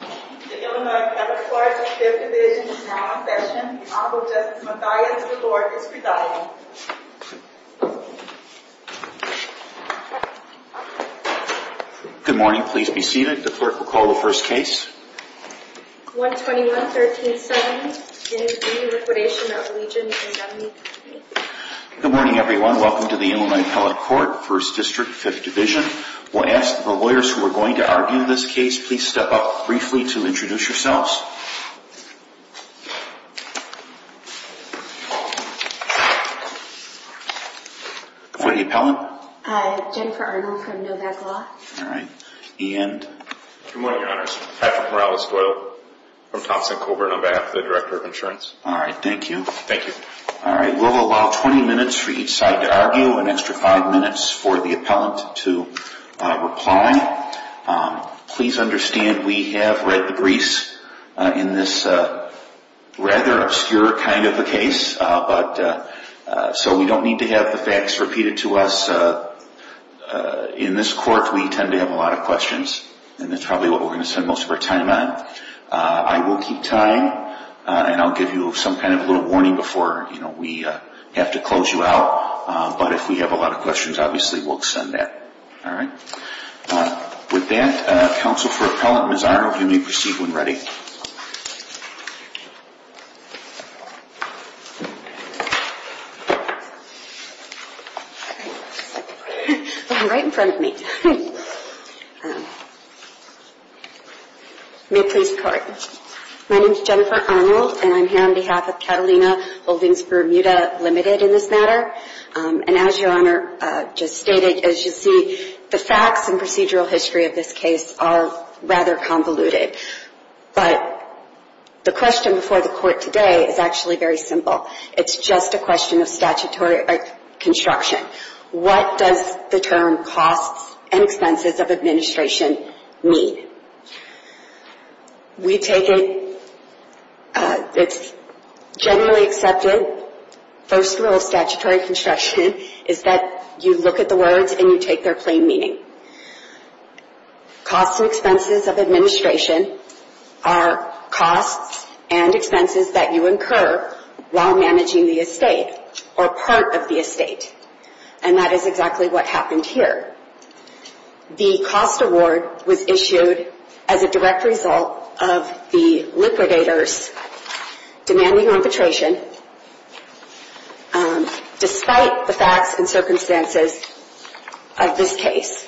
The Illinois Appellate Court, 5th Division, is now in session. Honorable Justice Mathias, the Court, is presiding. Good morning. Please be seated. The Clerk will call the first case. 121-1370 is the liquidation of Legion Indemnity. Good morning, everyone. Welcome to the Illinois Appellate Court, 1st District, 5th Division. We'll ask the lawyers who are going to argue this case, please step up briefly to introduce yourselves. Who are the appellant? Jennifer Arnold, from Novak Law. All right. And? Good morning, Your Honors. Patrick Morales Doyle, from Thompson & Coburn, on behalf of the Director of Insurance. All right. Thank you. Thank you. All right. We'll allow 20 minutes for each side to argue, an extra 5 minutes for the appellant to reply. Please understand, we have read the briefs in this rather obscure kind of a case, so we don't need to have the facts repeated to us. In this Court, we tend to have a lot of questions, and that's probably what we're going to spend most of our time on. I will keep time, and I'll give you some kind of a little warning before we have to close you out. But if we have a lot of questions, obviously, we'll extend that. All right? With that, counsel for appellant Ms. Arnold, you may proceed when ready. I'm right in front of me. May it please the Court. My name is Jennifer Arnold, and I'm here on behalf of Catalina Buildings Bermuda Limited in this matter. And as Your Honor just stated, as you see, the facts and procedural history of this case are rather convoluted. But the question before the Court today is actually very simple. It's just a question of statutory construction. What does the term costs and expenses of administration mean? We take it as generally accepted. First rule of statutory construction is that you look at the words and you take their plain meaning. Costs and expenses of administration are costs and expenses that you incur while managing the estate or part of the estate. And that is exactly what happened here. The cost award was issued as a direct result of the liquidators demanding arbitration despite the facts and circumstances of this case.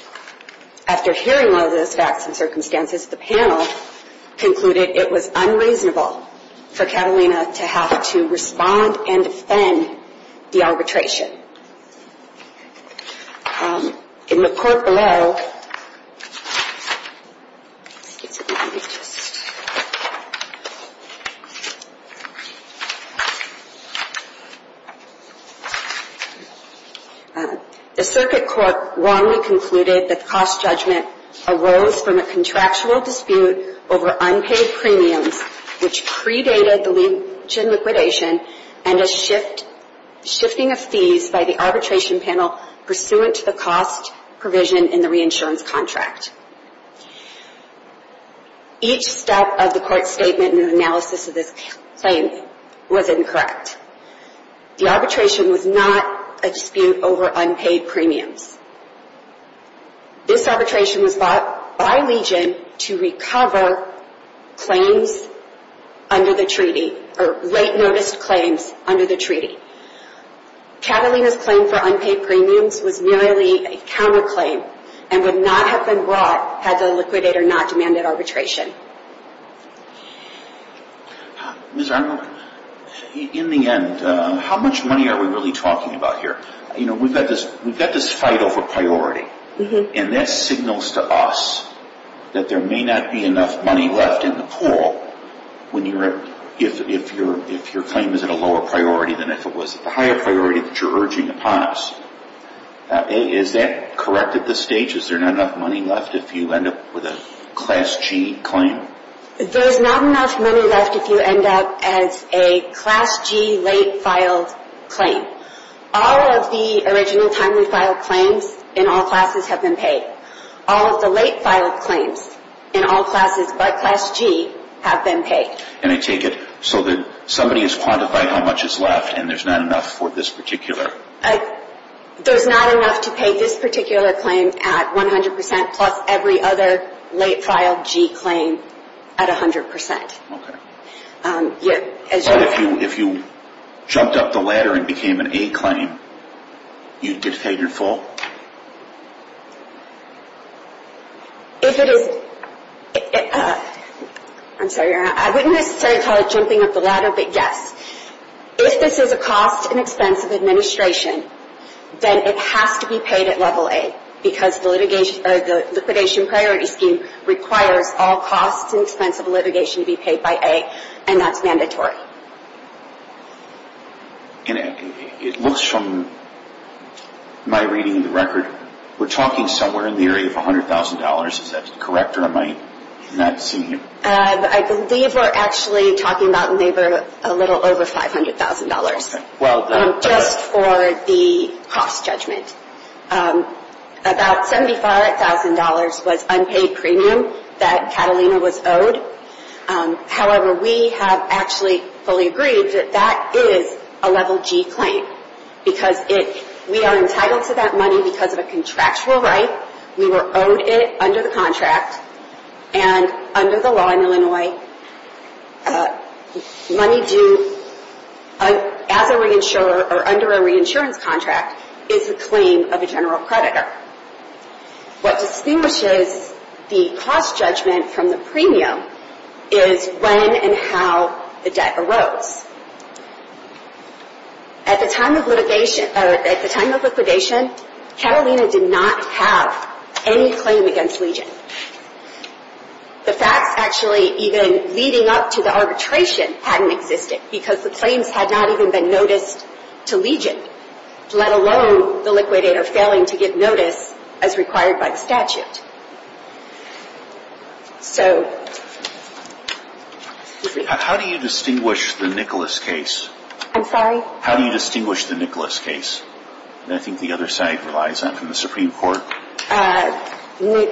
After hearing all of those facts and circumstances, the panel concluded it was unreasonable for Catalina to have to respond and defend the arbitration. In the court below, excuse me, let me just The circuit court wrongly concluded that the cost judgment arose from a contractual dispute over unpaid premiums, which predated the Legion liquidation and a shifting of fees by the arbitration panel pursuant to the cost provision in the reinsurance contract. Each step of the court's statement and analysis of this claim was incorrect. The arbitration was not a dispute over unpaid premiums. This arbitration was bought by Legion to recover claims under the treaty or late notice claims under the treaty. Catalina's claim for unpaid premiums was merely a counterclaim and would not have been brought had the liquidator not demanded arbitration. Ms. Arnold, in the end, how much money are we really talking about here? You know, we've got this fight over priority, and that signals to us that there may not be enough money left in the pool if your claim is at a lower priority than if it was at the higher priority that you're urging upon us. Is that correct at this stage? Is there not enough money left if you end up with a Class G claim? There's not enough money left if you end up as a Class G late filed claim. All of the original timely filed claims in all classes have been paid. All of the late filed claims in all classes but Class G have been paid. And I take it so that somebody has quantified how much is left and there's not enough for this particular? There's not enough to pay this particular claim at 100% plus every other late filed G claim at 100%. But if you jumped up the ladder and became an A claim, you just paid your full? I'm sorry, Your Honor. I wouldn't necessarily call it jumping up the ladder, but yes. If this is a cost and expense of administration, then it has to be paid at level A because the liquidation priority scheme requires all costs and expense of litigation to be paid by A and that's mandatory. And it looks from my reading of the record, we're talking somewhere in the area of $100,000. Is that correct or am I not seeing you? I believe we're actually talking about a little over $500,000 just for the cost judgment. About $75,000 was unpaid premium that Catalina was owed. However, we have actually fully agreed that that is a level G claim because we are entitled to that money because of a contractual right. We were owed it under the contract and under the law in Illinois, money due under a reinsurance contract is the claim of a general creditor. What distinguishes the cost judgment from the premium is when and how the debt arose. At the time of liquidation, Catalina did not have any claim against Legion. The facts actually even leading up to the arbitration hadn't existed because the claims had not even been noticed to Legion, let alone the liquidator failing to give notice as required by the statute. How do you distinguish the Nicholas case? I'm sorry? How do you distinguish the Nicholas case? I think the other side relies on the Supreme Court. Do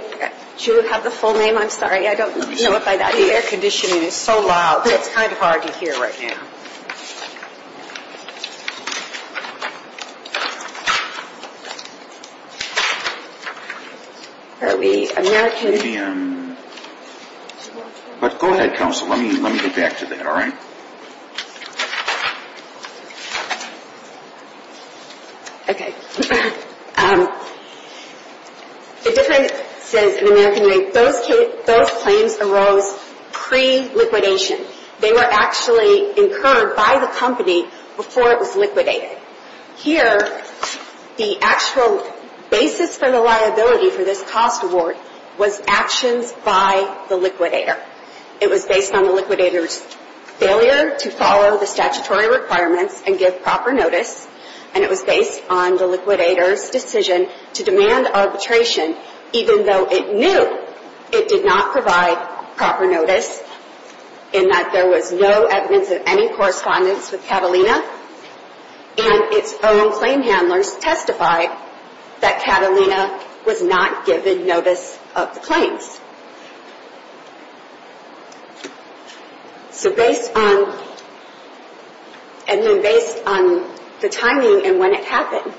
you have the full name? I'm sorry, I don't know if I got it. The air conditioning is so loud that it's kind of hard to hear right now. Are we American? Go ahead, counsel. Let me get back to that, all right? Okay. The difference is, in an American way, those claims arose pre-liquidation. They were actually incurred by the company before it was liquidated. Here, the actual basis for the liability for this cost award was actions by the liquidator. It was based on the liquidator's failure to follow the statutory requirements and give proper notice, and it was based on the liquidator's decision to demand arbitration, even though it knew it did not provide proper notice, in that there was no evidence of any correspondence with Catalina, and its own claim handlers testified that Catalina was not giving notice of the claims. So based on, and then based on the timing and when it happened.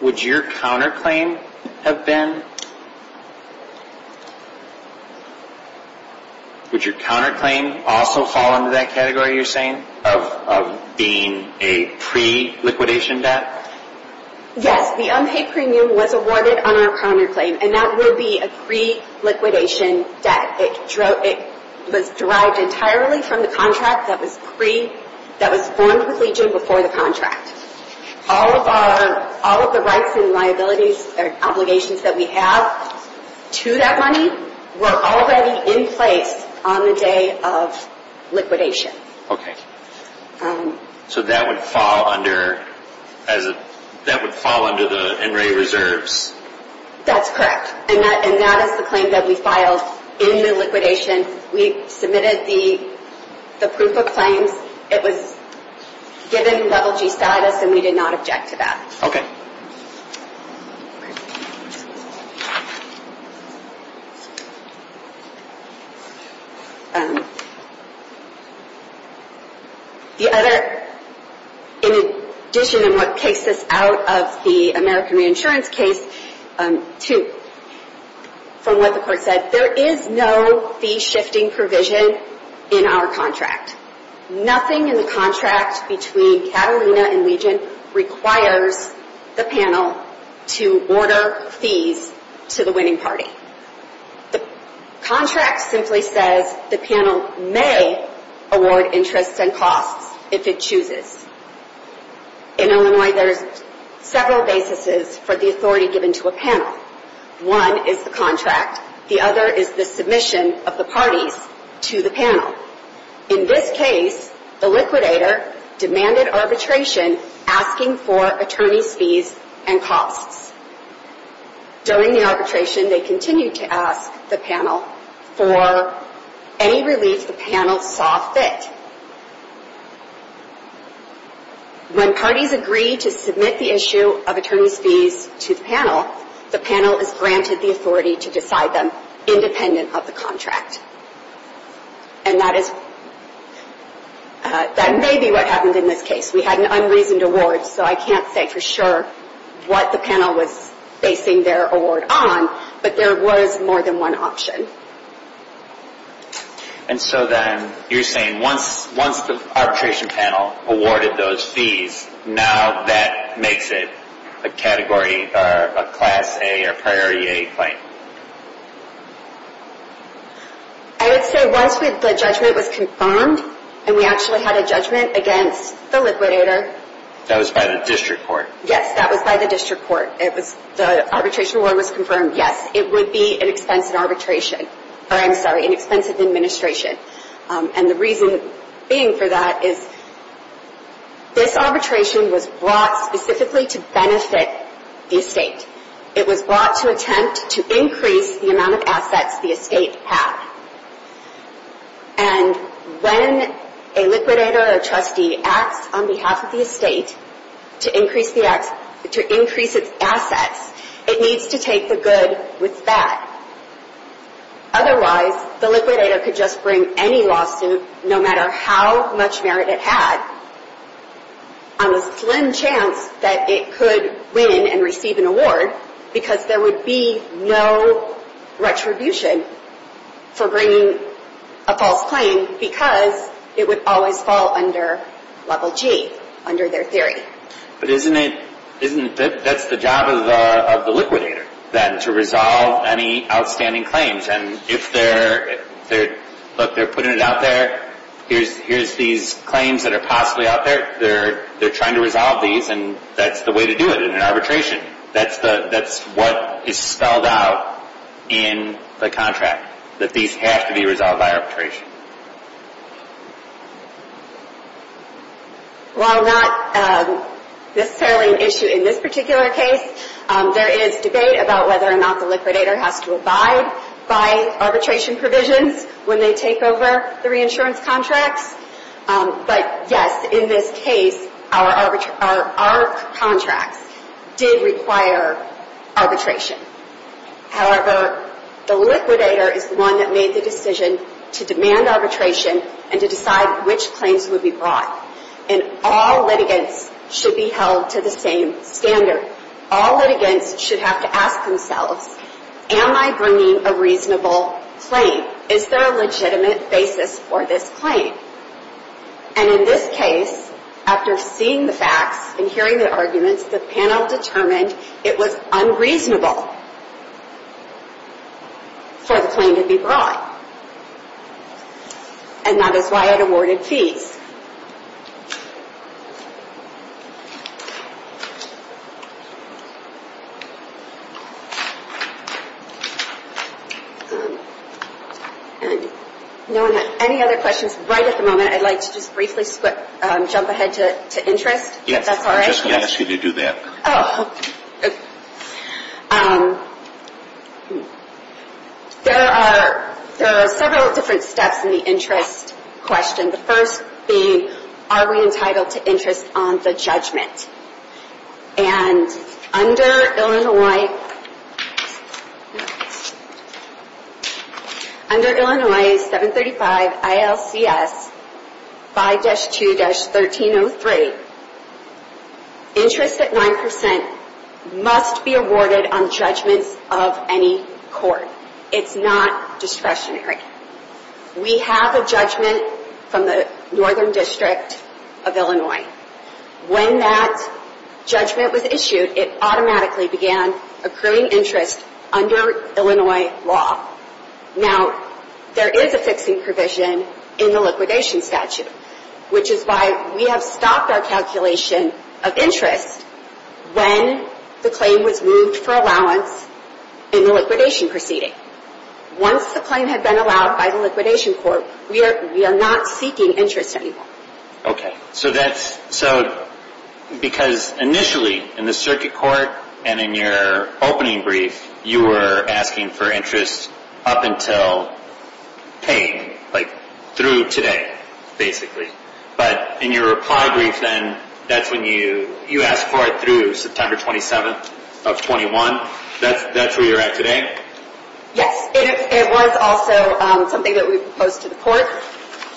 Would your counterclaim have been, would your counterclaim also fall under that category you're saying, of being a pre-liquidation debt? Yes, the unpaid premium was awarded on our counterclaim, and that would be a pre-liquidation debt. It was derived entirely from the contract that was formed with Legion before the contract. All of the rights and liabilities or obligations that we have to that money were already in place on the day of liquidation. Okay. So that would fall under, that would fall under the NRA reserves? That's correct, and that is the claim that we filed in the liquidation. We submitted the proof of claims. It was given level G status, and we did not object to that. Okay. The other, in addition in what takes us out of the American Reinsurance case, two, from what the court said, there is no fee shifting provision in our contract. Nothing in the contract between Catalina and Legion requires the panel to order fees to the winning party. The contract simply says the panel may award interests and costs if it chooses. In Illinois, there's several bases for the authority given to a panel. One is the contract. The other is the submission of the parties to the panel. In this case, the liquidator demanded arbitration asking for attorney's fees and costs. During the arbitration, they continued to ask the panel for any relief the panel saw fit. When parties agree to submit the issue of attorney's fees to the panel, the panel is granted the authority to decide them independent of the contract. And that is, that may be what happened in this case. We had an unreasoned award, so I can't say for sure what the panel was basing their award on, but there was more than one option. And so then, you're saying once the arbitration panel awarded those fees, now that makes it a category or a Class A or Priority A claim? I would say once the judgment was confirmed, and we actually had a judgment against the liquidator. That was by the district court? Yes, that was by the district court. The arbitration award was confirmed. Yes, it would be an expensive administration. And the reason being for that is this arbitration was brought specifically to benefit the estate. It was brought to attempt to increase the amount of assets the estate had. And when a liquidator or trustee acts on behalf of the estate to increase its assets, it needs to take the good with that. Otherwise, the liquidator could just bring any lawsuit, no matter how much merit it had, on a slim chance that it could win and receive an award, because there would be no retribution for bringing a false claim because it would always fall under Level G, under their theory. But isn't it, that's the job of the liquidator then, to resolve any outstanding claims. And if they're, look, they're putting it out there. Here's these claims that are possibly out there. They're trying to resolve these, and that's the way to do it in an arbitration. That's what is spelled out in the contract, that these have to be resolved by arbitration. While not necessarily an issue in this particular case, there is debate about whether or not the liquidator has to abide by arbitration provisions when they take over the reinsurance contracts. But yes, in this case, our contracts did require arbitration. However, the liquidator is the one that made the decision to demand arbitration and to decide which claims would be brought. And all litigants should be held to the same standard. All litigants should have to ask themselves, am I bringing a reasonable claim? Is there a legitimate basis for this claim? And in this case, after seeing the facts and hearing the arguments, the panel determined it was unreasonable for the claim to be brought. And that is why it awarded fees. And no one has any other questions right at the moment. I'd like to just briefly jump ahead to interest, if that's all right. Yes, I just asked you to do that. Oh, okay. There are several different steps in the interest question. Are we entitled to interest on the judgment? And under Illinois 735 ILCS 5-2-1303, interest at 9% must be awarded on judgments of any court. It's not discretionary. We have a judgment from the Northern District of Illinois. When that judgment was issued, it automatically began accruing interest under Illinois law. Now, there is a fixing provision in the liquidation statute, which is why we have stopped our calculation of interest when the claim was moved for allowance in the liquidation proceeding. Once the claim had been allowed by the liquidation court, we are not seeking interest anymore. Okay. So that's... So, because initially in the circuit court and in your opening brief, you were asking for interest up until paying, like through today, basically. But in your reply brief then, that's when you asked for it through September 27th of 21. That's where you're at today? Yes. It was also something that we proposed to the court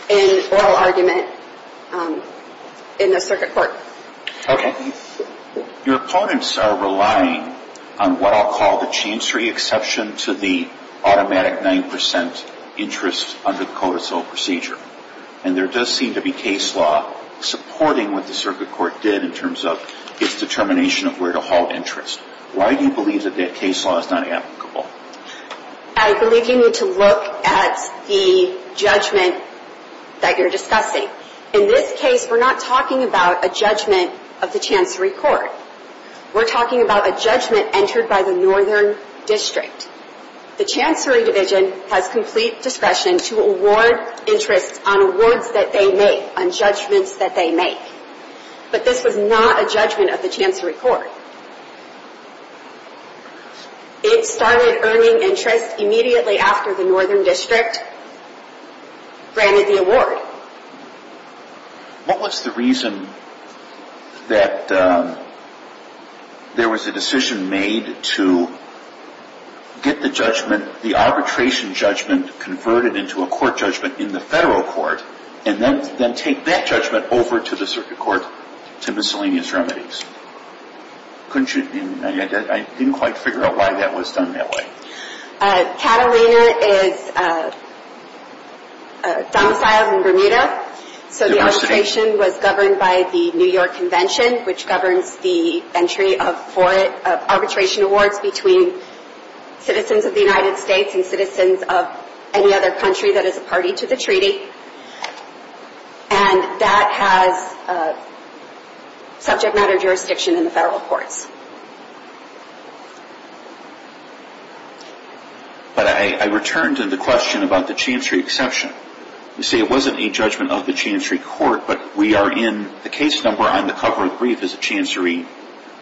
in oral argument in the circuit court. Okay. Your opponents are relying on what I'll call the chancery exception to the automatic 9% interest under the CODISO procedure. And there does seem to be case law supporting what the circuit court did in terms of its determination of where to hold interest. Why do you believe that that case law is not applicable? I believe you need to look at the judgment that you're discussing. In this case, we're not talking about a judgment of the chancery court. We're talking about a judgment entered by the Northern District. The chancery division has complete discretion to award interest on awards that they make, on judgments that they make. But this was not a judgment of the chancery court. It started earning interest immediately after the Northern District granted the award. What was the reason that there was a decision made to get the arbitration judgment converted into a court judgment in the federal court, and then take that judgment over to the circuit court to miscellaneous remedies? I didn't quite figure out why that was done that way. Catalina is domiciled in Bermuda. So the arbitration was governed by the New York Convention, which governs the entry of arbitration awards between citizens of the United States and citizens of any other country that is a party to the treaty. And that has subject matter jurisdiction in the federal courts. But I return to the question about the chancery exception. You see, it wasn't a judgment of the chancery court, but we are in the case number on the cover of the brief is a chancery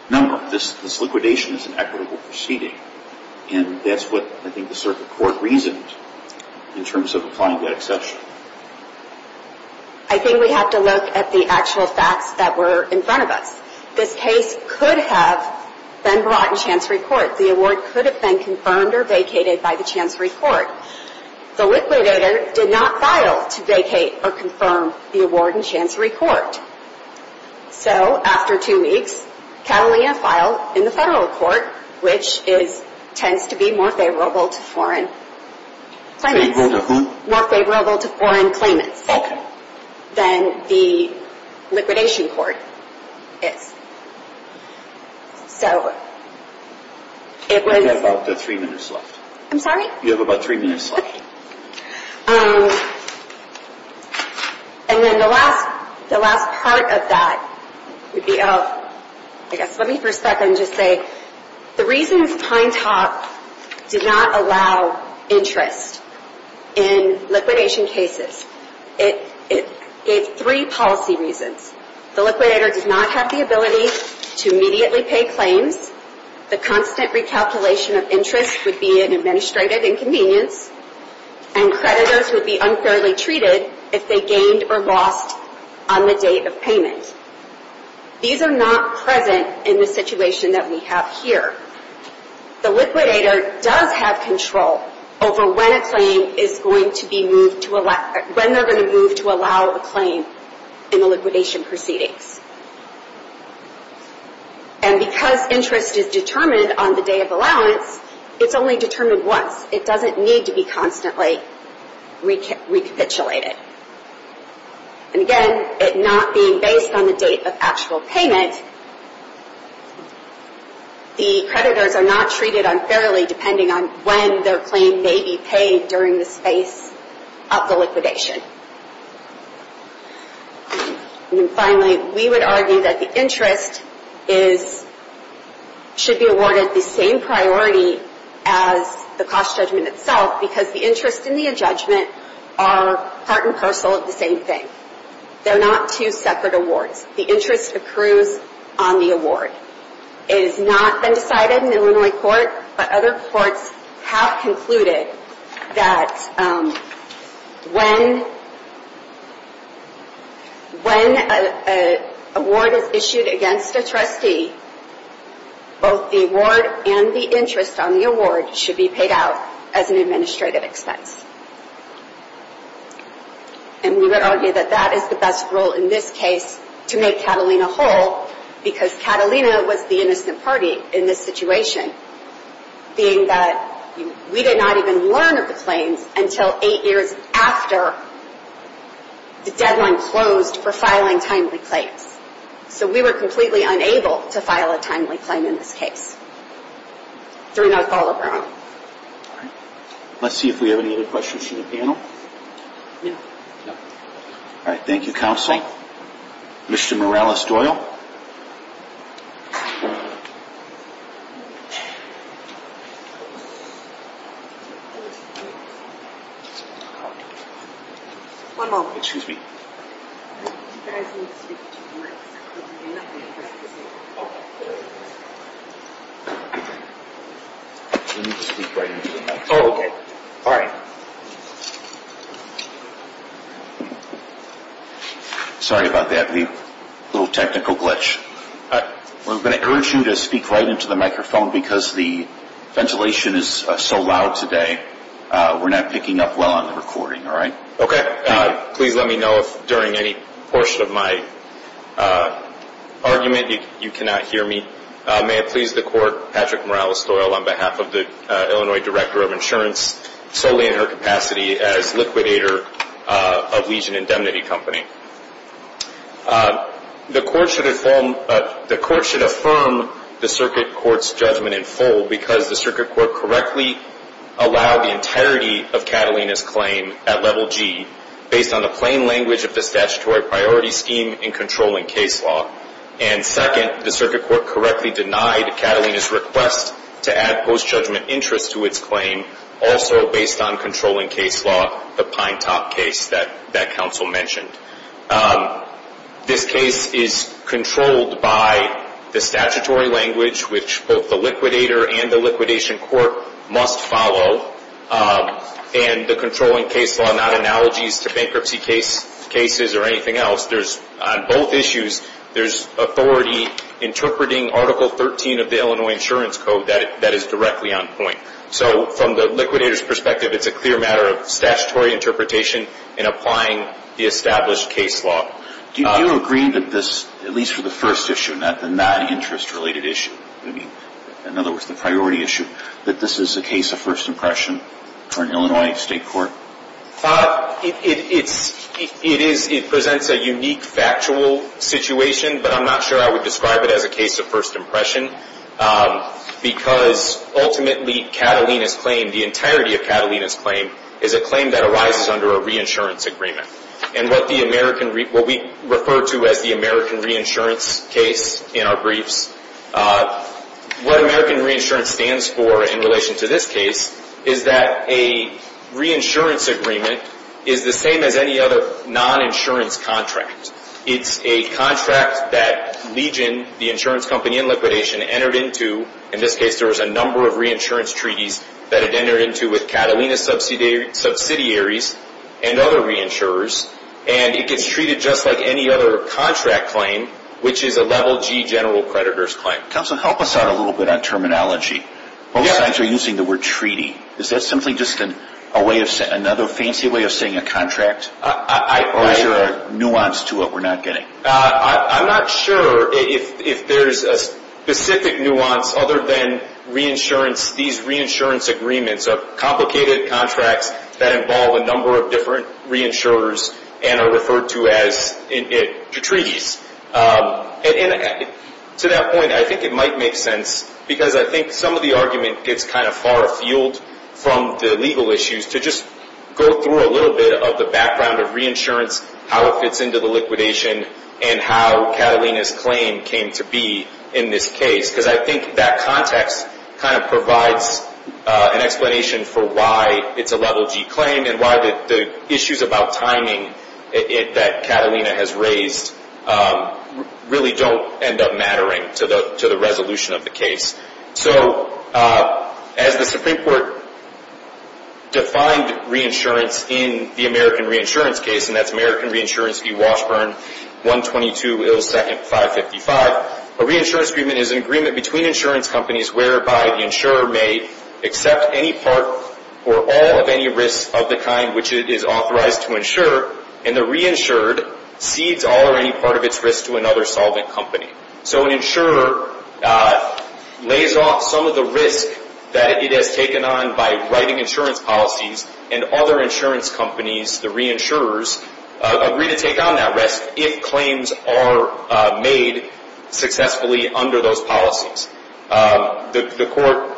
number. This liquidation is an equitable proceeding. And that's what I think the circuit court reasoned in terms of applying the exception. I think we have to look at the actual facts that were in front of us. This case could have been brought in chancery court. The award could have been confirmed or vacated by the chancery court. The liquidator did not file to vacate or confirm the award in chancery court. So after two weeks, Catalina filed in the federal court, which tends to be more favorable to foreign claimants. More favorable to foreign claimants. Than the liquidation court is. So it was... You have about three minutes left. I'm sorry? You have about three minutes left. And then the last part of that would be, I guess let me for a second just say, the reasons Pine Top did not allow interest in liquidation cases. It gave three policy reasons. The liquidator did not have the ability to immediately pay claims. The constant recalculation of interest would be an administrative inconvenience. And creditors would be unfairly treated if they gained or lost on the date of payment. These are not present in the situation that we have here. The liquidator does have control over when a claim is going to be moved to allow... When they're going to move to allow a claim in the liquidation proceedings. And because interest is determined on the day of allowance, it's only determined once. It doesn't need to be constantly recapitulated. And again, it not being based on the date of actual payment, the creditors are not treated unfairly depending on when their claim may be paid during the space of the liquidation. And then finally, we would argue that the interest is... should be awarded the same priority as the cost judgment itself, because the interest and the adjudgment are part and parcel of the same thing. They're not two separate awards. The interest accrues on the award. It has not been decided in Illinois court, but other courts have concluded that when... When an award is issued against a trustee, both the award and the interest on the award should be paid out as an administrative expense. And we would argue that that is the best rule in this case to make Catalina whole, because Catalina was the innocent party in this situation, being that we did not even learn of the claims until eight years after the deadline closed for filing timely claims. So we were completely unable to file a timely claim in this case during our call of our own. Let's see if we have any other questions from the panel. No. All right. Thank you, counsel. Mr. Morales-Doyle. Excuse me. You guys need to speak into the microphone. We need to speak right into the microphone. Oh, okay. All right. Sorry about that. A little technical glitch. We're going to urge you to speak right into the microphone because the ventilation is so loud today. We're not picking up well on the recording, all right? Okay. Please let me know if during any portion of my argument you cannot hear me. May it please the court, Patrick Morales-Doyle, on behalf of the Illinois Director of Insurance, solely in her capacity as liquidator of Legion Indemnity Company. The court should affirm the circuit court's judgment in full because the circuit court correctly allowed the entirety of Catalina's claim to be a PG based on the plain language of the statutory priority scheme in controlling case law. And second, the circuit court correctly denied Catalina's request to add post-judgment interest to its claim also based on controlling case law, the Pine Top case that counsel mentioned. This case is controlled by the statutory language which both the liquidator and the liquidation court must follow. And the controlling case law, not analogies to bankruptcy cases or anything else. On both issues, there's authority interpreting Article 13 of the Illinois Insurance Code that is directly on point. So from the liquidator's perspective, it's a clear matter of statutory interpretation and applying the established case law. Do you agree that this, at least for the first issue, not the non-interest related issue, in other words the priority issue, that this is a case of first impression for an Illinois state court? It presents a unique factual situation, but I'm not sure I would describe it as a case of first impression because ultimately Catalina's claim, the entirety of Catalina's claim, is a claim that arises under a reinsurance agreement. And what we refer to as the American reinsurance case in our briefs, what American reinsurance stands for in relation to this case is that a reinsurance agreement is the same as any other non-insurance contract. It's a contract that Legion, the insurance company in liquidation, entered into, in this case there was a number of reinsurance treaties that it entered into with Catalina subsidiaries and other reinsurers, and it gets treated just like any other contract claim, which is a level G general creditor's claim. Counsel, help us out a little bit on terminology. Both sides are using the word treaty. Is that simply just another fancy way of saying a contract? Or is there a nuance to it we're not getting? I'm not sure if there's a specific nuance, other than these reinsurance agreements are complicated contracts that involve a number of different reinsurers and are referred to as treaties. To that point, I think it might make sense, because I think some of the argument gets kind of far afield from the legal issues, to just go through a little bit of the background of reinsurance, how it fits into the liquidation, and how Catalina's claim came to be in this case. Because I think that context kind of provides an explanation for why it's a level G claim and why the issues about timing that Catalina has raised really don't end up mattering to the resolution of the case. So, as the Supreme Court defined reinsurance in the American Reinsurance case, and that's American Reinsurance v. Washburn, 122 ill second 555, a reinsurance agreement is an agreement between insurance companies whereby the insurer may accept any part or all of any risks of the kind which it is authorized to insure, and the reinsured cedes all or any part of its risk to another solvent company. So an insurer lays off some of the risk that it has taken on by writing insurance policies, and other insurance companies, the reinsurers, agree to take on that risk if claims are made successfully under those policies. The court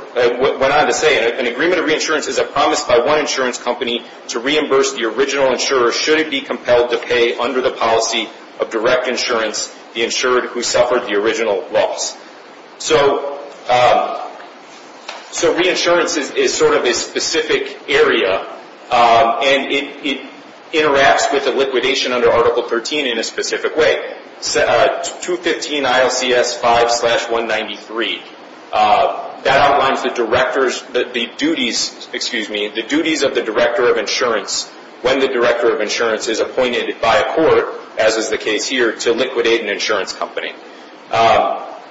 went on to say, an agreement of reinsurance is a promise by one insurance company to reimburse the original insurer should it be compelled to pay under the policy of direct insurance the insured who suffered the original loss. So reinsurance is sort of a specific area, and it interacts with the liquidation under Article 13 in a specific way. 215 ILCS 5 slash 193, that outlines the duties of the director of insurance when the director of insurance is appointed by a court, as is the case here, to liquidate an insurance company.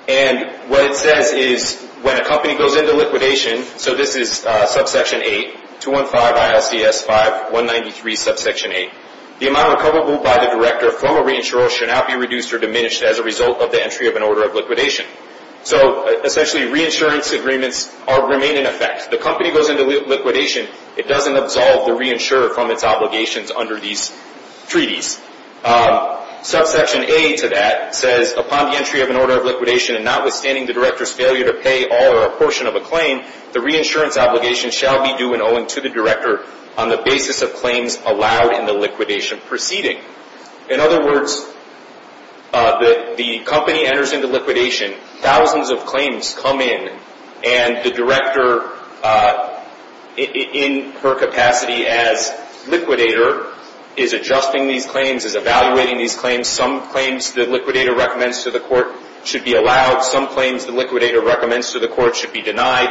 And what it says is when a company goes into liquidation, so this is subsection 8, 215 ILCS 5, 193 subsection 8, the amount recoverable by the director of formal reinsurance should not be reduced or diminished as a result of the entry of an order of liquidation. So essentially, reinsurance agreements remain in effect. The company goes into liquidation, it doesn't absolve the reinsurer from its obligations under these treaties. Subsection A to that says, upon the entry of an order of liquidation, and notwithstanding the director's failure to pay all or a portion of a claim, the reinsurance obligation shall be due and owing to the director on the basis of claims allowed in the liquidation proceeding. In other words, the company enters into liquidation, thousands of claims come in, and the director, in her capacity as liquidator, is adjusting these claims, is evaluating these claims. Some claims the liquidator recommends to the court should be allowed. Some claims the liquidator recommends to the court should be denied.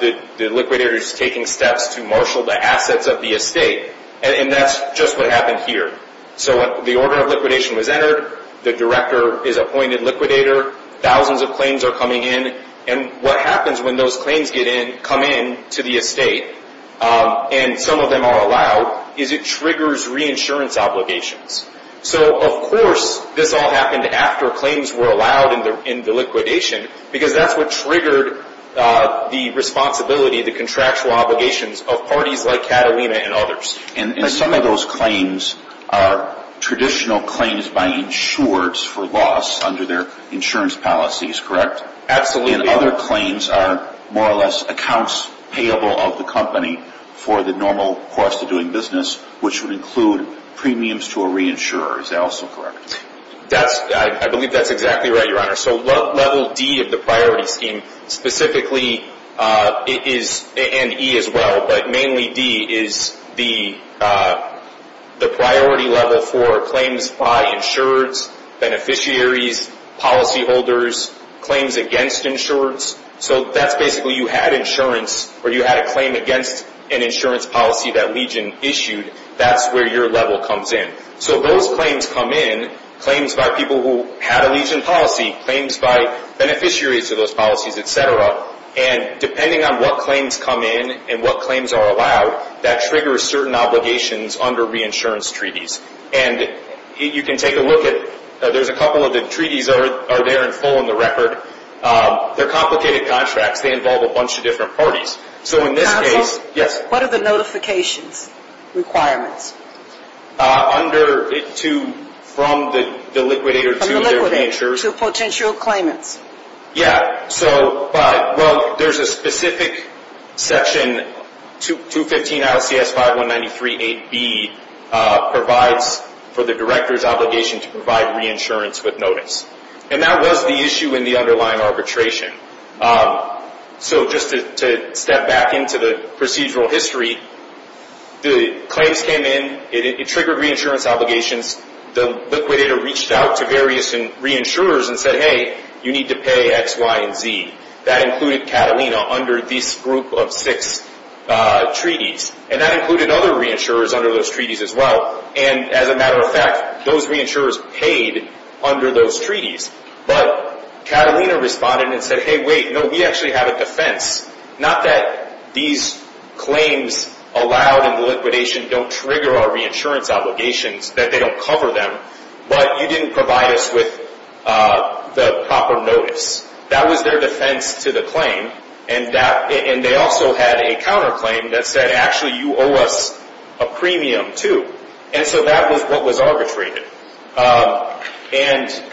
The liquidator is taking steps to marshal the assets of the estate. And that's just what happened here. So the order of liquidation was entered, the director is appointed liquidator, thousands of claims are coming in, and what happens when those claims come in to the estate, and some of them are allowed, is it triggers reinsurance obligations. So of course this all happened after claims were allowed in the liquidation, because that's what triggered the responsibility, the contractual obligations, of parties like Catalina and others. And some of those claims are traditional claims by insurers for loss under their insurance policies, correct? Absolutely. And other claims are more or less accounts payable of the company for the normal cost of doing business, which would include premiums to a reinsurer, is that also correct? I believe that's exactly right, Your Honor. So level D of the priority scheme, specifically, and E as well, but mainly D, is the priority level for claims by insurers, beneficiaries, policyholders, claims against insurers. So that's basically you had insurance, or you had a claim against an insurance policy that Legion issued, that's where your level comes in. So those claims come in, claims by people who had a Legion policy, claims by beneficiaries of those policies, et cetera, and depending on what claims come in and what claims are allowed, that triggers certain obligations under reinsurance treaties. And you can take a look at, there's a couple of the treaties that are there in full in the record. They're complicated contracts. They involve a bunch of different parties. So in this case, yes? What are the notifications requirements? Under to, from the liquidator to their reinsurers. From the liquidator to potential claimants. Yeah, so, but, well, there's a specific section, 215 ILCS 51938B, provides for the director's obligation to provide reinsurance with notice. And that was the issue in the underlying arbitration. So just to step back into the procedural history, the claims came in, it triggered reinsurance obligations, the liquidator reached out to various reinsurers and said, hey, you need to pay X, Y, and Z. That included Catalina under this group of six treaties. And that included other reinsurers under those treaties as well. And as a matter of fact, those reinsurers paid under those treaties. But Catalina responded and said, hey, wait, no, we actually have a defense. Not that these claims allowed in the liquidation don't trigger our reinsurance obligations, that they don't cover them, but you didn't provide us with the proper notice. You didn't pay X to the claim. And they also had a counterclaim that said actually you owe us a premium too. And so that was what was arbitrated. And,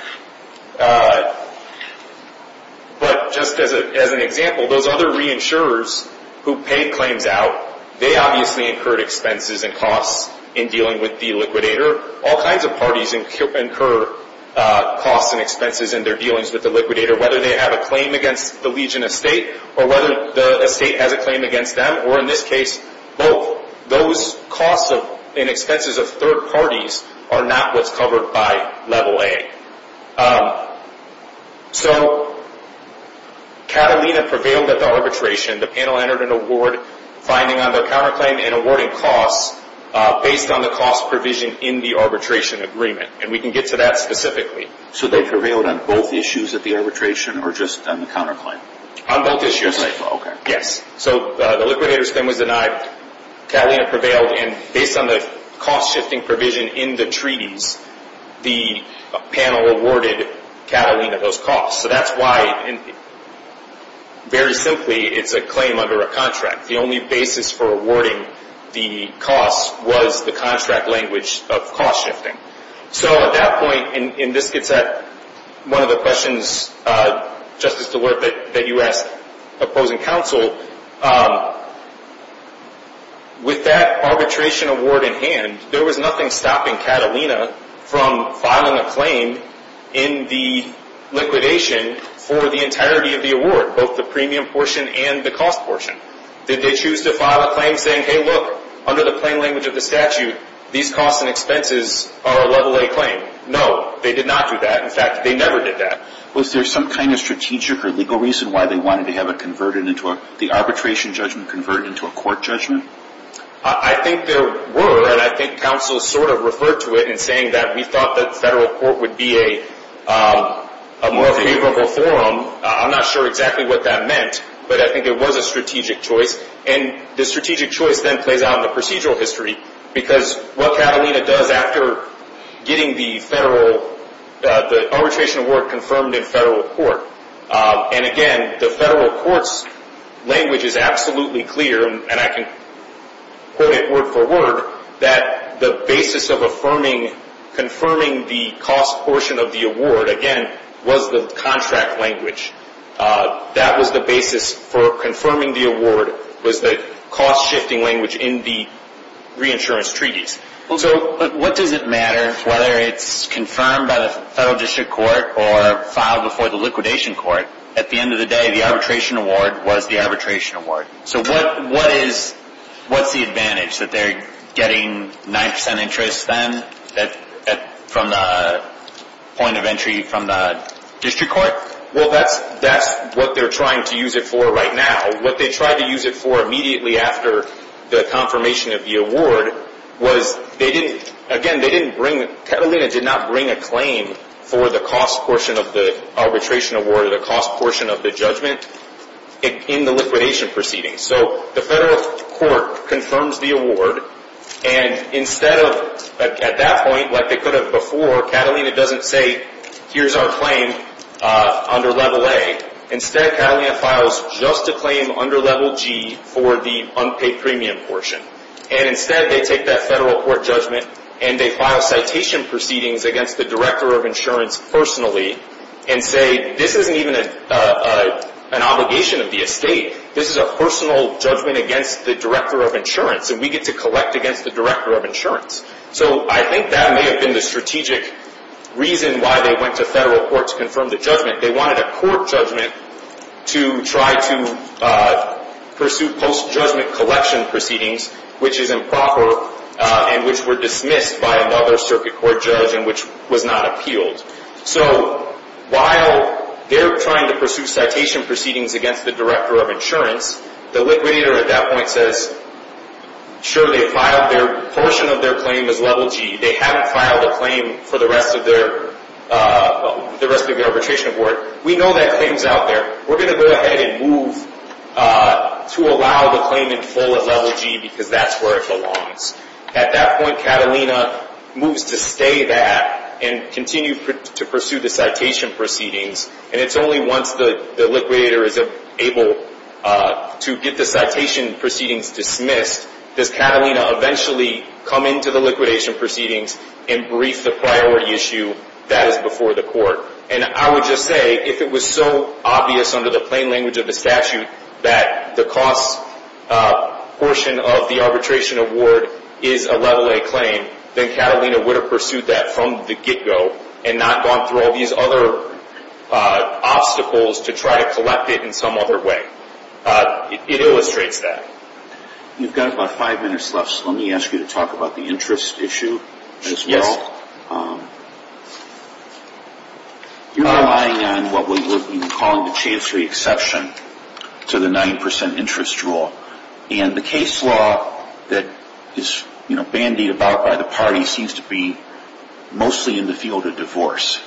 but just as an example, those other reinsurers who paid claims out, they obviously incurred expenses and costs in dealing with the liquidator. All kinds of parties incur costs and expenses in their dealings with the liquidator. Whether it's the Norwegian estate or whether the estate has a claim against them or in this case, both. Those costs and expenses of third parties are not what's covered by Level A. So, Catalina prevailed at the arbitration. The panel entered an award finding on their counterclaim and awarding costs based on the cost provision in the arbitration agreement. And we can get to that specifically. So they prevailed on both issues at the arbitration or just on the counterclaim? On both issues. Yes. So the liquidator's claim was denied. Catalina prevailed and based on the cost shifting provision in the treaties, the panel awarded Catalina those costs. So that's why very simply, it's a claim under a contract. The only basis for awarding the costs was the contract language of cost shifting. So at that point, and this gets at one of the questions just as to the work that you asked opposing counsel, with that arbitration award in hand, there was nothing stopping Catalina from filing a claim in the liquidation for the entirety of the award, both the premium portion and the cost portion. Did they choose to file a claim saying, hey look, under the plain language of the statute, these costs and expenses are a level A claim? No. They did not do that. In fact, they never did that. Was there some kind of strategic or legal reason why they wanted to have it converted into a, the arbitration judgment converted into a court judgment? I think there were and I think counsel sort of referred to it in saying that we thought the federal court would be a more favorable forum. I'm not sure exactly what that meant, but I think there was a strategic choice and the strategic choice then plays out in the procedural history because what Catalina does after getting the federal, the arbitration award confirmed in federal court and again, the federal court's language is absolutely clear and I can quote it word for word that the basis of affirming, confirming the cost portion of the award, again, was the contract language. That was the basis for confirming the award was the cost-shifting language in the reinsurance treaties. Well, so, what does it matter whether it's confirmed by the federal district court or filed before the liquidation court? At the end of the day, the arbitration award was the arbitration award. So what is, what's the advantage that they're getting 9% interest then from the point of entry from the district court? Well, that's, that's what they're trying to use it for right now. What they tried to use it for immediately after the confirmation of the award was they didn't, again, they didn't bring, Catalina did not bring a claim for the cost portion of the arbitration award or the cost portion of the judgment in the liquidation proceeding. So, the federal court confirms the award and instead of, at that point, like they could have before, Catalina doesn't say, here's our claim under Level A. Instead, Catalina files just a claim under Level G for the unpaid premium portion. And instead, they take that federal court judgment and they file citation proceedings against the Director of Insurance personally and say, this isn't even an obligation of the estate. This is a personal judgment against the Director of Insurance and we get to collect against the Director of Insurance. So, I think that may have been the strategic reason why they went to federal court to confirm the judgment. They wanted a court judgment to try to pursue post-judgment collection proceedings which is improper and which were dismissed by another circuit court judge and which was not appealed. So, while they're trying to pursue citation proceedings against the Director of Insurance, the liquidator, at that point, says, sure, they filed their portion of their claim as Level G. They haven't filed a claim for the rest of their arbitration award. We know that claim is out there. We're going to file a claim in full at Level G because that's where it belongs. At that point, Catalina moves to stay that and continue to pursue the citation proceedings and it's only once the liquidator is able to get the citation proceedings dismissed does Catalina eventually come into the liquidation proceedings and brief the priority issue that is before the court. And I would just say, if it was so obvious under the plain language of the statute that the cost portion of the arbitration award is a Level A claim, then Catalina would have pursued that from the get-go and not gone through all these other obstacles to try to collect it in some other way. It illustrates that. You've got about five minutes left so let me ask you to answer this question. Do you agree with the characterization that the case law that is bandied about by the party seems to be mostly in the field of divorce?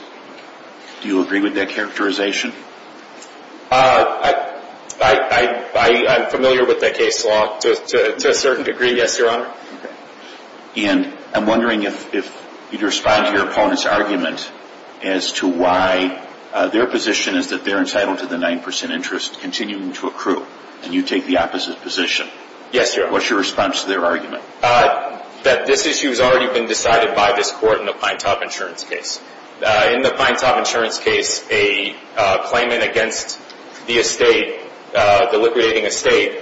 Do you agree with that characterization? I'm familiar with that case law to a certain degree, yes, Your Honor. And I'm wondering if you'd respond to your opponent's argument as to why their position is that they're entitled to the 9% interest continuing to accrue and you take the opposite position. Yes, Your Honor. What's your response to their argument? That this issue has already been decided by this court in the Pinetop Insurance case, a claimant against the estate, the liquidating estate,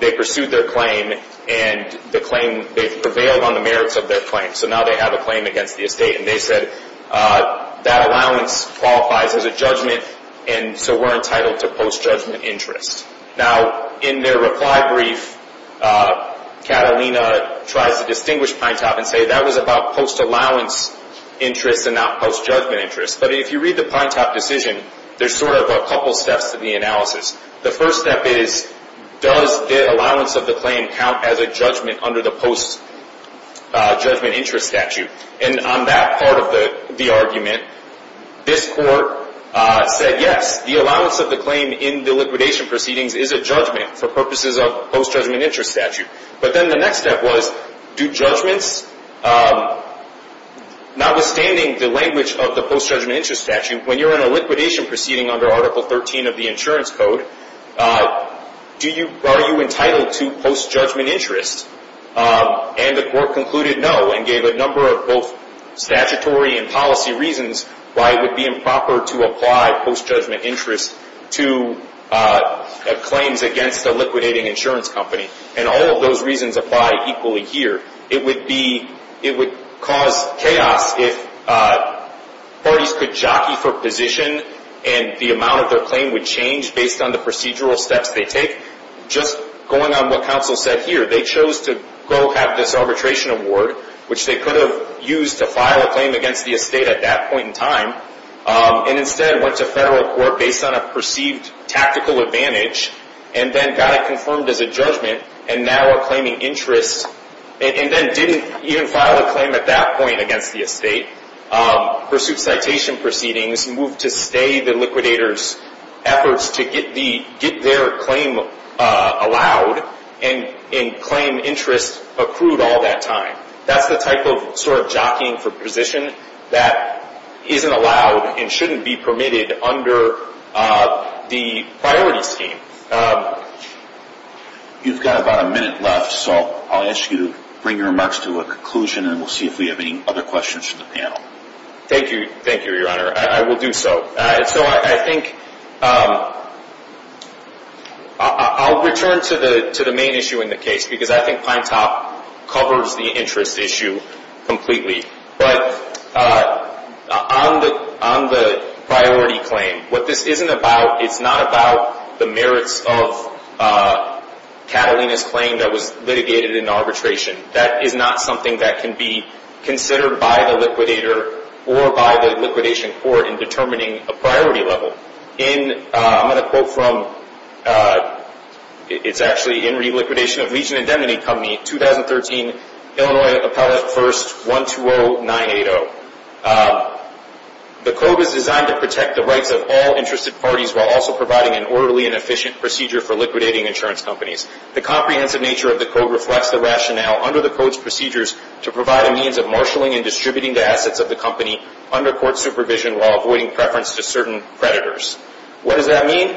they pursued their claim and the claim, they prevailed on the merits of their claim, so now they have a claim against the estate and they said that allowance qualifies as a judgment and so we're entitled to post-judgment interest. Now, in their reply brief, Catalina tries to distinguish Pinetop and say that was about post-allowance interest and not post-judgment interest, but if you read the Pinetop decision, there's sort of a couple steps to the analysis. The first step is, does the allowance of the claim count as a judgment under the post-judgment interest statute? And on that part of the argument, this court said yes, the allowance of the claim in the liquidation proceedings is a judgment for purposes of post-judgment interest statute, but then the next step was, do judgments, notwithstanding the language of the post-judgment interest statute, when you're in a liquidation proceeding under Article 13 of the Insurance Code, are you entitled to post-judgment interest? And the court concluded no and gave a number of both statutory and policy reasons why it would be improper to apply post-judgment interest to claims against a liquidating insurance company, and all of those reasons apply equally here. It would cause chaos if parties could jockey for position and the amount of their claim would change based on the procedural steps they take. Just going on what counsel said here, they chose to go have this arbitration award, which they could have used to file a claim against the estate at that point in time, and instead went to federal court perceived tactical advantage and then got it confirmed as a judgment and now are claiming interest and then didn't even file a claim at that point against the estate, pursued citation proceedings, moved to stay the liquidator's efforts to get their claim allowed and claim interest accrued all that time. That's the type of sort of jockeying for position that isn't allowed and shouldn't be permitted under the priority scheme. You've got about a minute left, so I'll ask you to bring your remarks to a conclusion and we'll see if we have any other questions from the panel. Thank you, thank you, your honor. I will do so. So I think I'll return to the main issue in the case because I think Pine Top covers the interest issue completely, but on the priority claim, what this isn't about, it's not about the merits of Catalina's claim that was litigated in arbitration. That is not something that can be determined by the liquidator or by the liquidation court in determining a priority level. I'm going to quote from, it's actually in Reliquidation of Legion Indemnity Company, 2013, Illinois Appellate First, 120980. The code is designed to protect the rights of all interested parties while also providing an orderly and efficient procedure for liquidating insurance companies. The comprehensive nature of the code reflects the rationale under the code's procedures to provide a means of marshalling and distributing the assets of the company under court supervision while avoiding preference to certain creditors. What does that mean?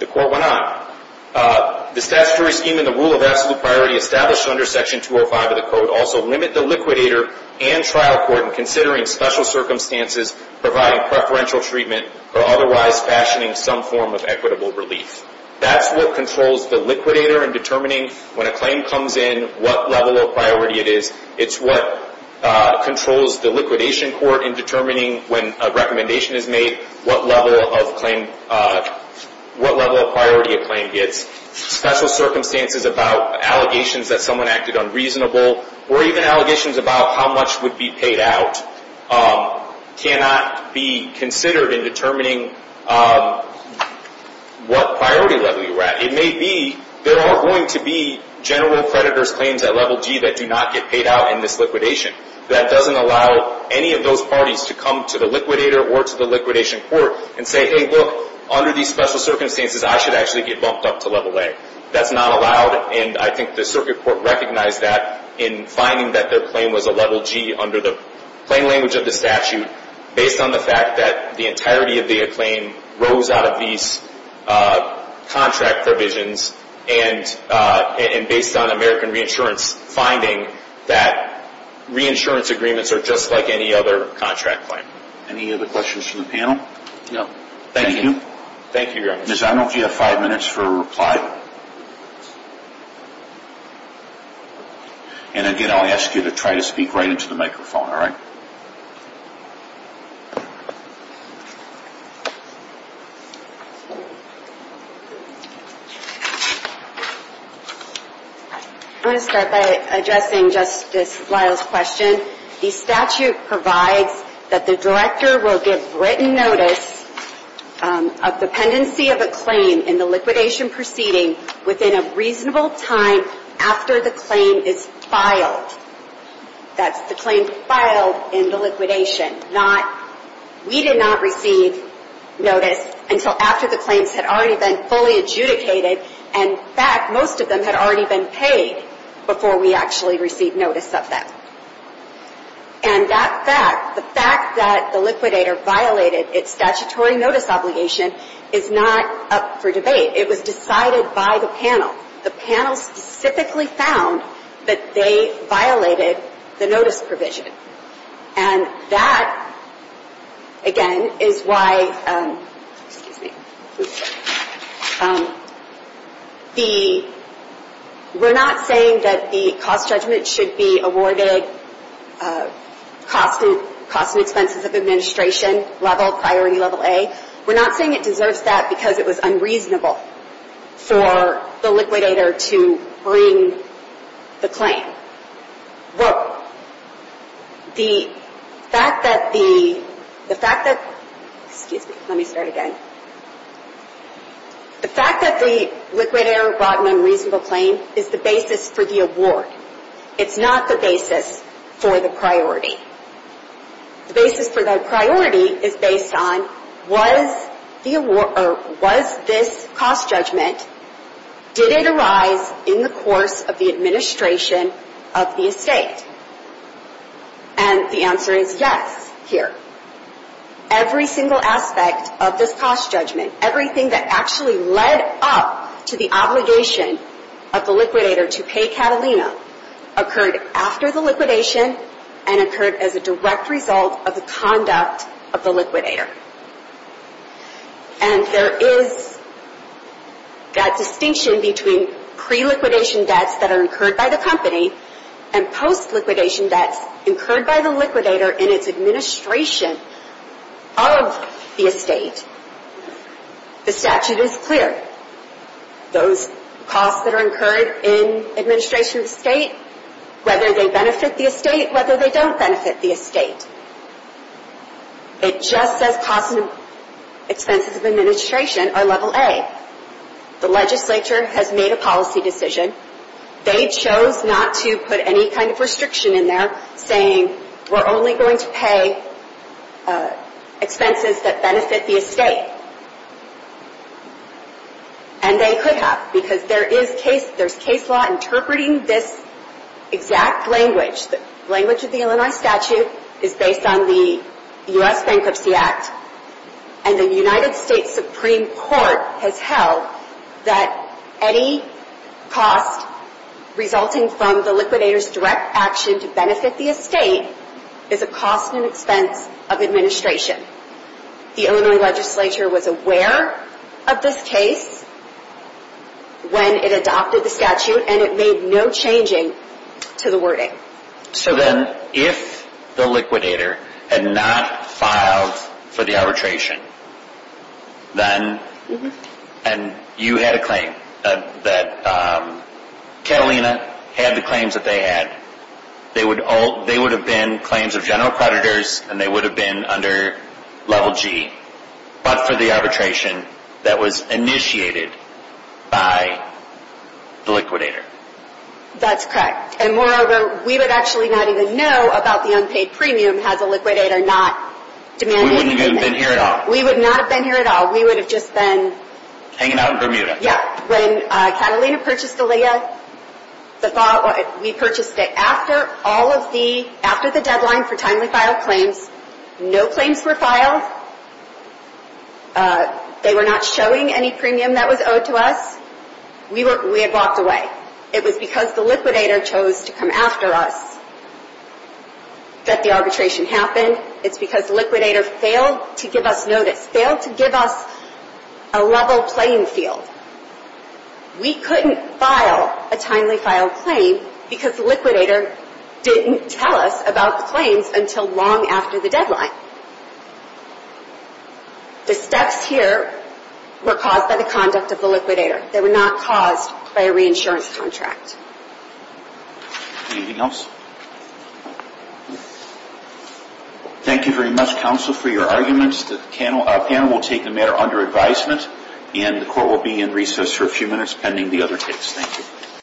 The court went on. The statutory scheme and the rule of order section 205 of the code also limit the liquidator and trial court in considering special circumstances, providing preferential treatment, or otherwise fashioning some form of equitable relief. That's what controls the liquidator in determining when a claim comes in, what level of priority it is. It's what controls the liquidation court in determining when a recommendation is made, what level of priority a claim gets, special circumstances about allegations that someone acted unreasonable, or even allegations about how much would be paid out cannot be considered in determining what priority level you were at. It may be there are going to be general creditors claims at level D that do not get paid out in this liquidation. That doesn't allow any of those parties to come to the liquidator or to the liquidation court and say, hey, look, under these special circumstances, I should actually get bumped up to level A. That's not allowed, and I think the circuit court recognized that in finding that their claim was a level G under the plain language of the statute based on the fact that the entirety of American Reinsurance finding that reinsurance agreements are just like any other contract claim. Any other questions from the panel? No. Thank you. Ms. Arnold, do you have five minutes for a reply? And again, I'll ask you to try to speak right into the microphone, all right? I'm going to start by addressing Justice Lyle's question. The statute provides that the director will give written notice of dependency of a claim proceeding within a reasonable time after the claim is filed. That's the claim filed within a reasonable time after the claim is filed. That is the principle in the liquidation. We did not receive notice until after the claims had already been fully adjudicated and, in fact, most of them had already been paid before we actually received notice of them. And that fact, the fact that the liquidator violated its statutory notice obligation is not up for discussion. that, again, is why, excuse me, the, we're not saying that the cost judgment should be awarded cost and expenses of administration level, priority level A. We're not saying it deserves that because it was unreasonable for the liquidator to bring the claim. Well, the fact that the, the fact that, excuse me, let me start again, the fact that the liquidator brought an unreasonable claim is the basis for the award. It's not the basis for the priority. The basis for the priority is based on was this cost judgment, did it arise in the course of the administration of the estate? And the answer is yes here. Every single aspect of this cost judgment, everything that actually led up to the obligation of the liquidator to pay Catalina occurred after the liquidation and occurred as a direct result of the conduct of the liquidator. And there is that distinction between pre-liquidation debts that are incurred by the company and post-liquidation debts incurred by the liquidator in its administration of the estate. The statute is clear. Those costs that are incurred in administration of the state, whether they benefit the estate, whether they don't benefit the estate. It just says costs and expenses of administration are level A. The legislature has made a policy decision. They chose not to put any kind of restriction in there saying we're only going to pay expenses that benefit the estate. And they could have because there is case law interpreting this exact language. The language of the Illinois statute is based on the U.S. Bankruptcy Act and the United States Supreme Court has held that any cost resulting from the liquidator's direct action to benefit the estate is a cost and expense of administration. The Illinois legislature was aware of this case when it adopted the statute and it made no changing to the wording. So then if the liquidator had not filed for the arbitration then and you had a claim that Catalina had the claims that they had, they would have been claims of general creditors and they would have been under level G but for the arbitration that was initiated by the liquidator. That's correct. And moreover we would actually not have been here at all. We would not have been here at all. We would have just been hanging out in Bermuda. Yeah. When Catalina purchased the LEIA, we purchased it after all of the after the deadline for timely file claims, no claims were filed, they were not showing any premium that was And the reason that the arbitration happened, it's because the liquidator failed to give us notice, failed to give us a level playing field. We couldn't file a timely file claim because the liquidator didn't tell us about the claims until long after the deadline. The steps here were caused by the failing to give us the claims until long after the deadline. And the liquidator didn't tell us about the claims until long after the long after the deadline. And the reason that the liquidator didn't tell us about the claims until long after the deadline.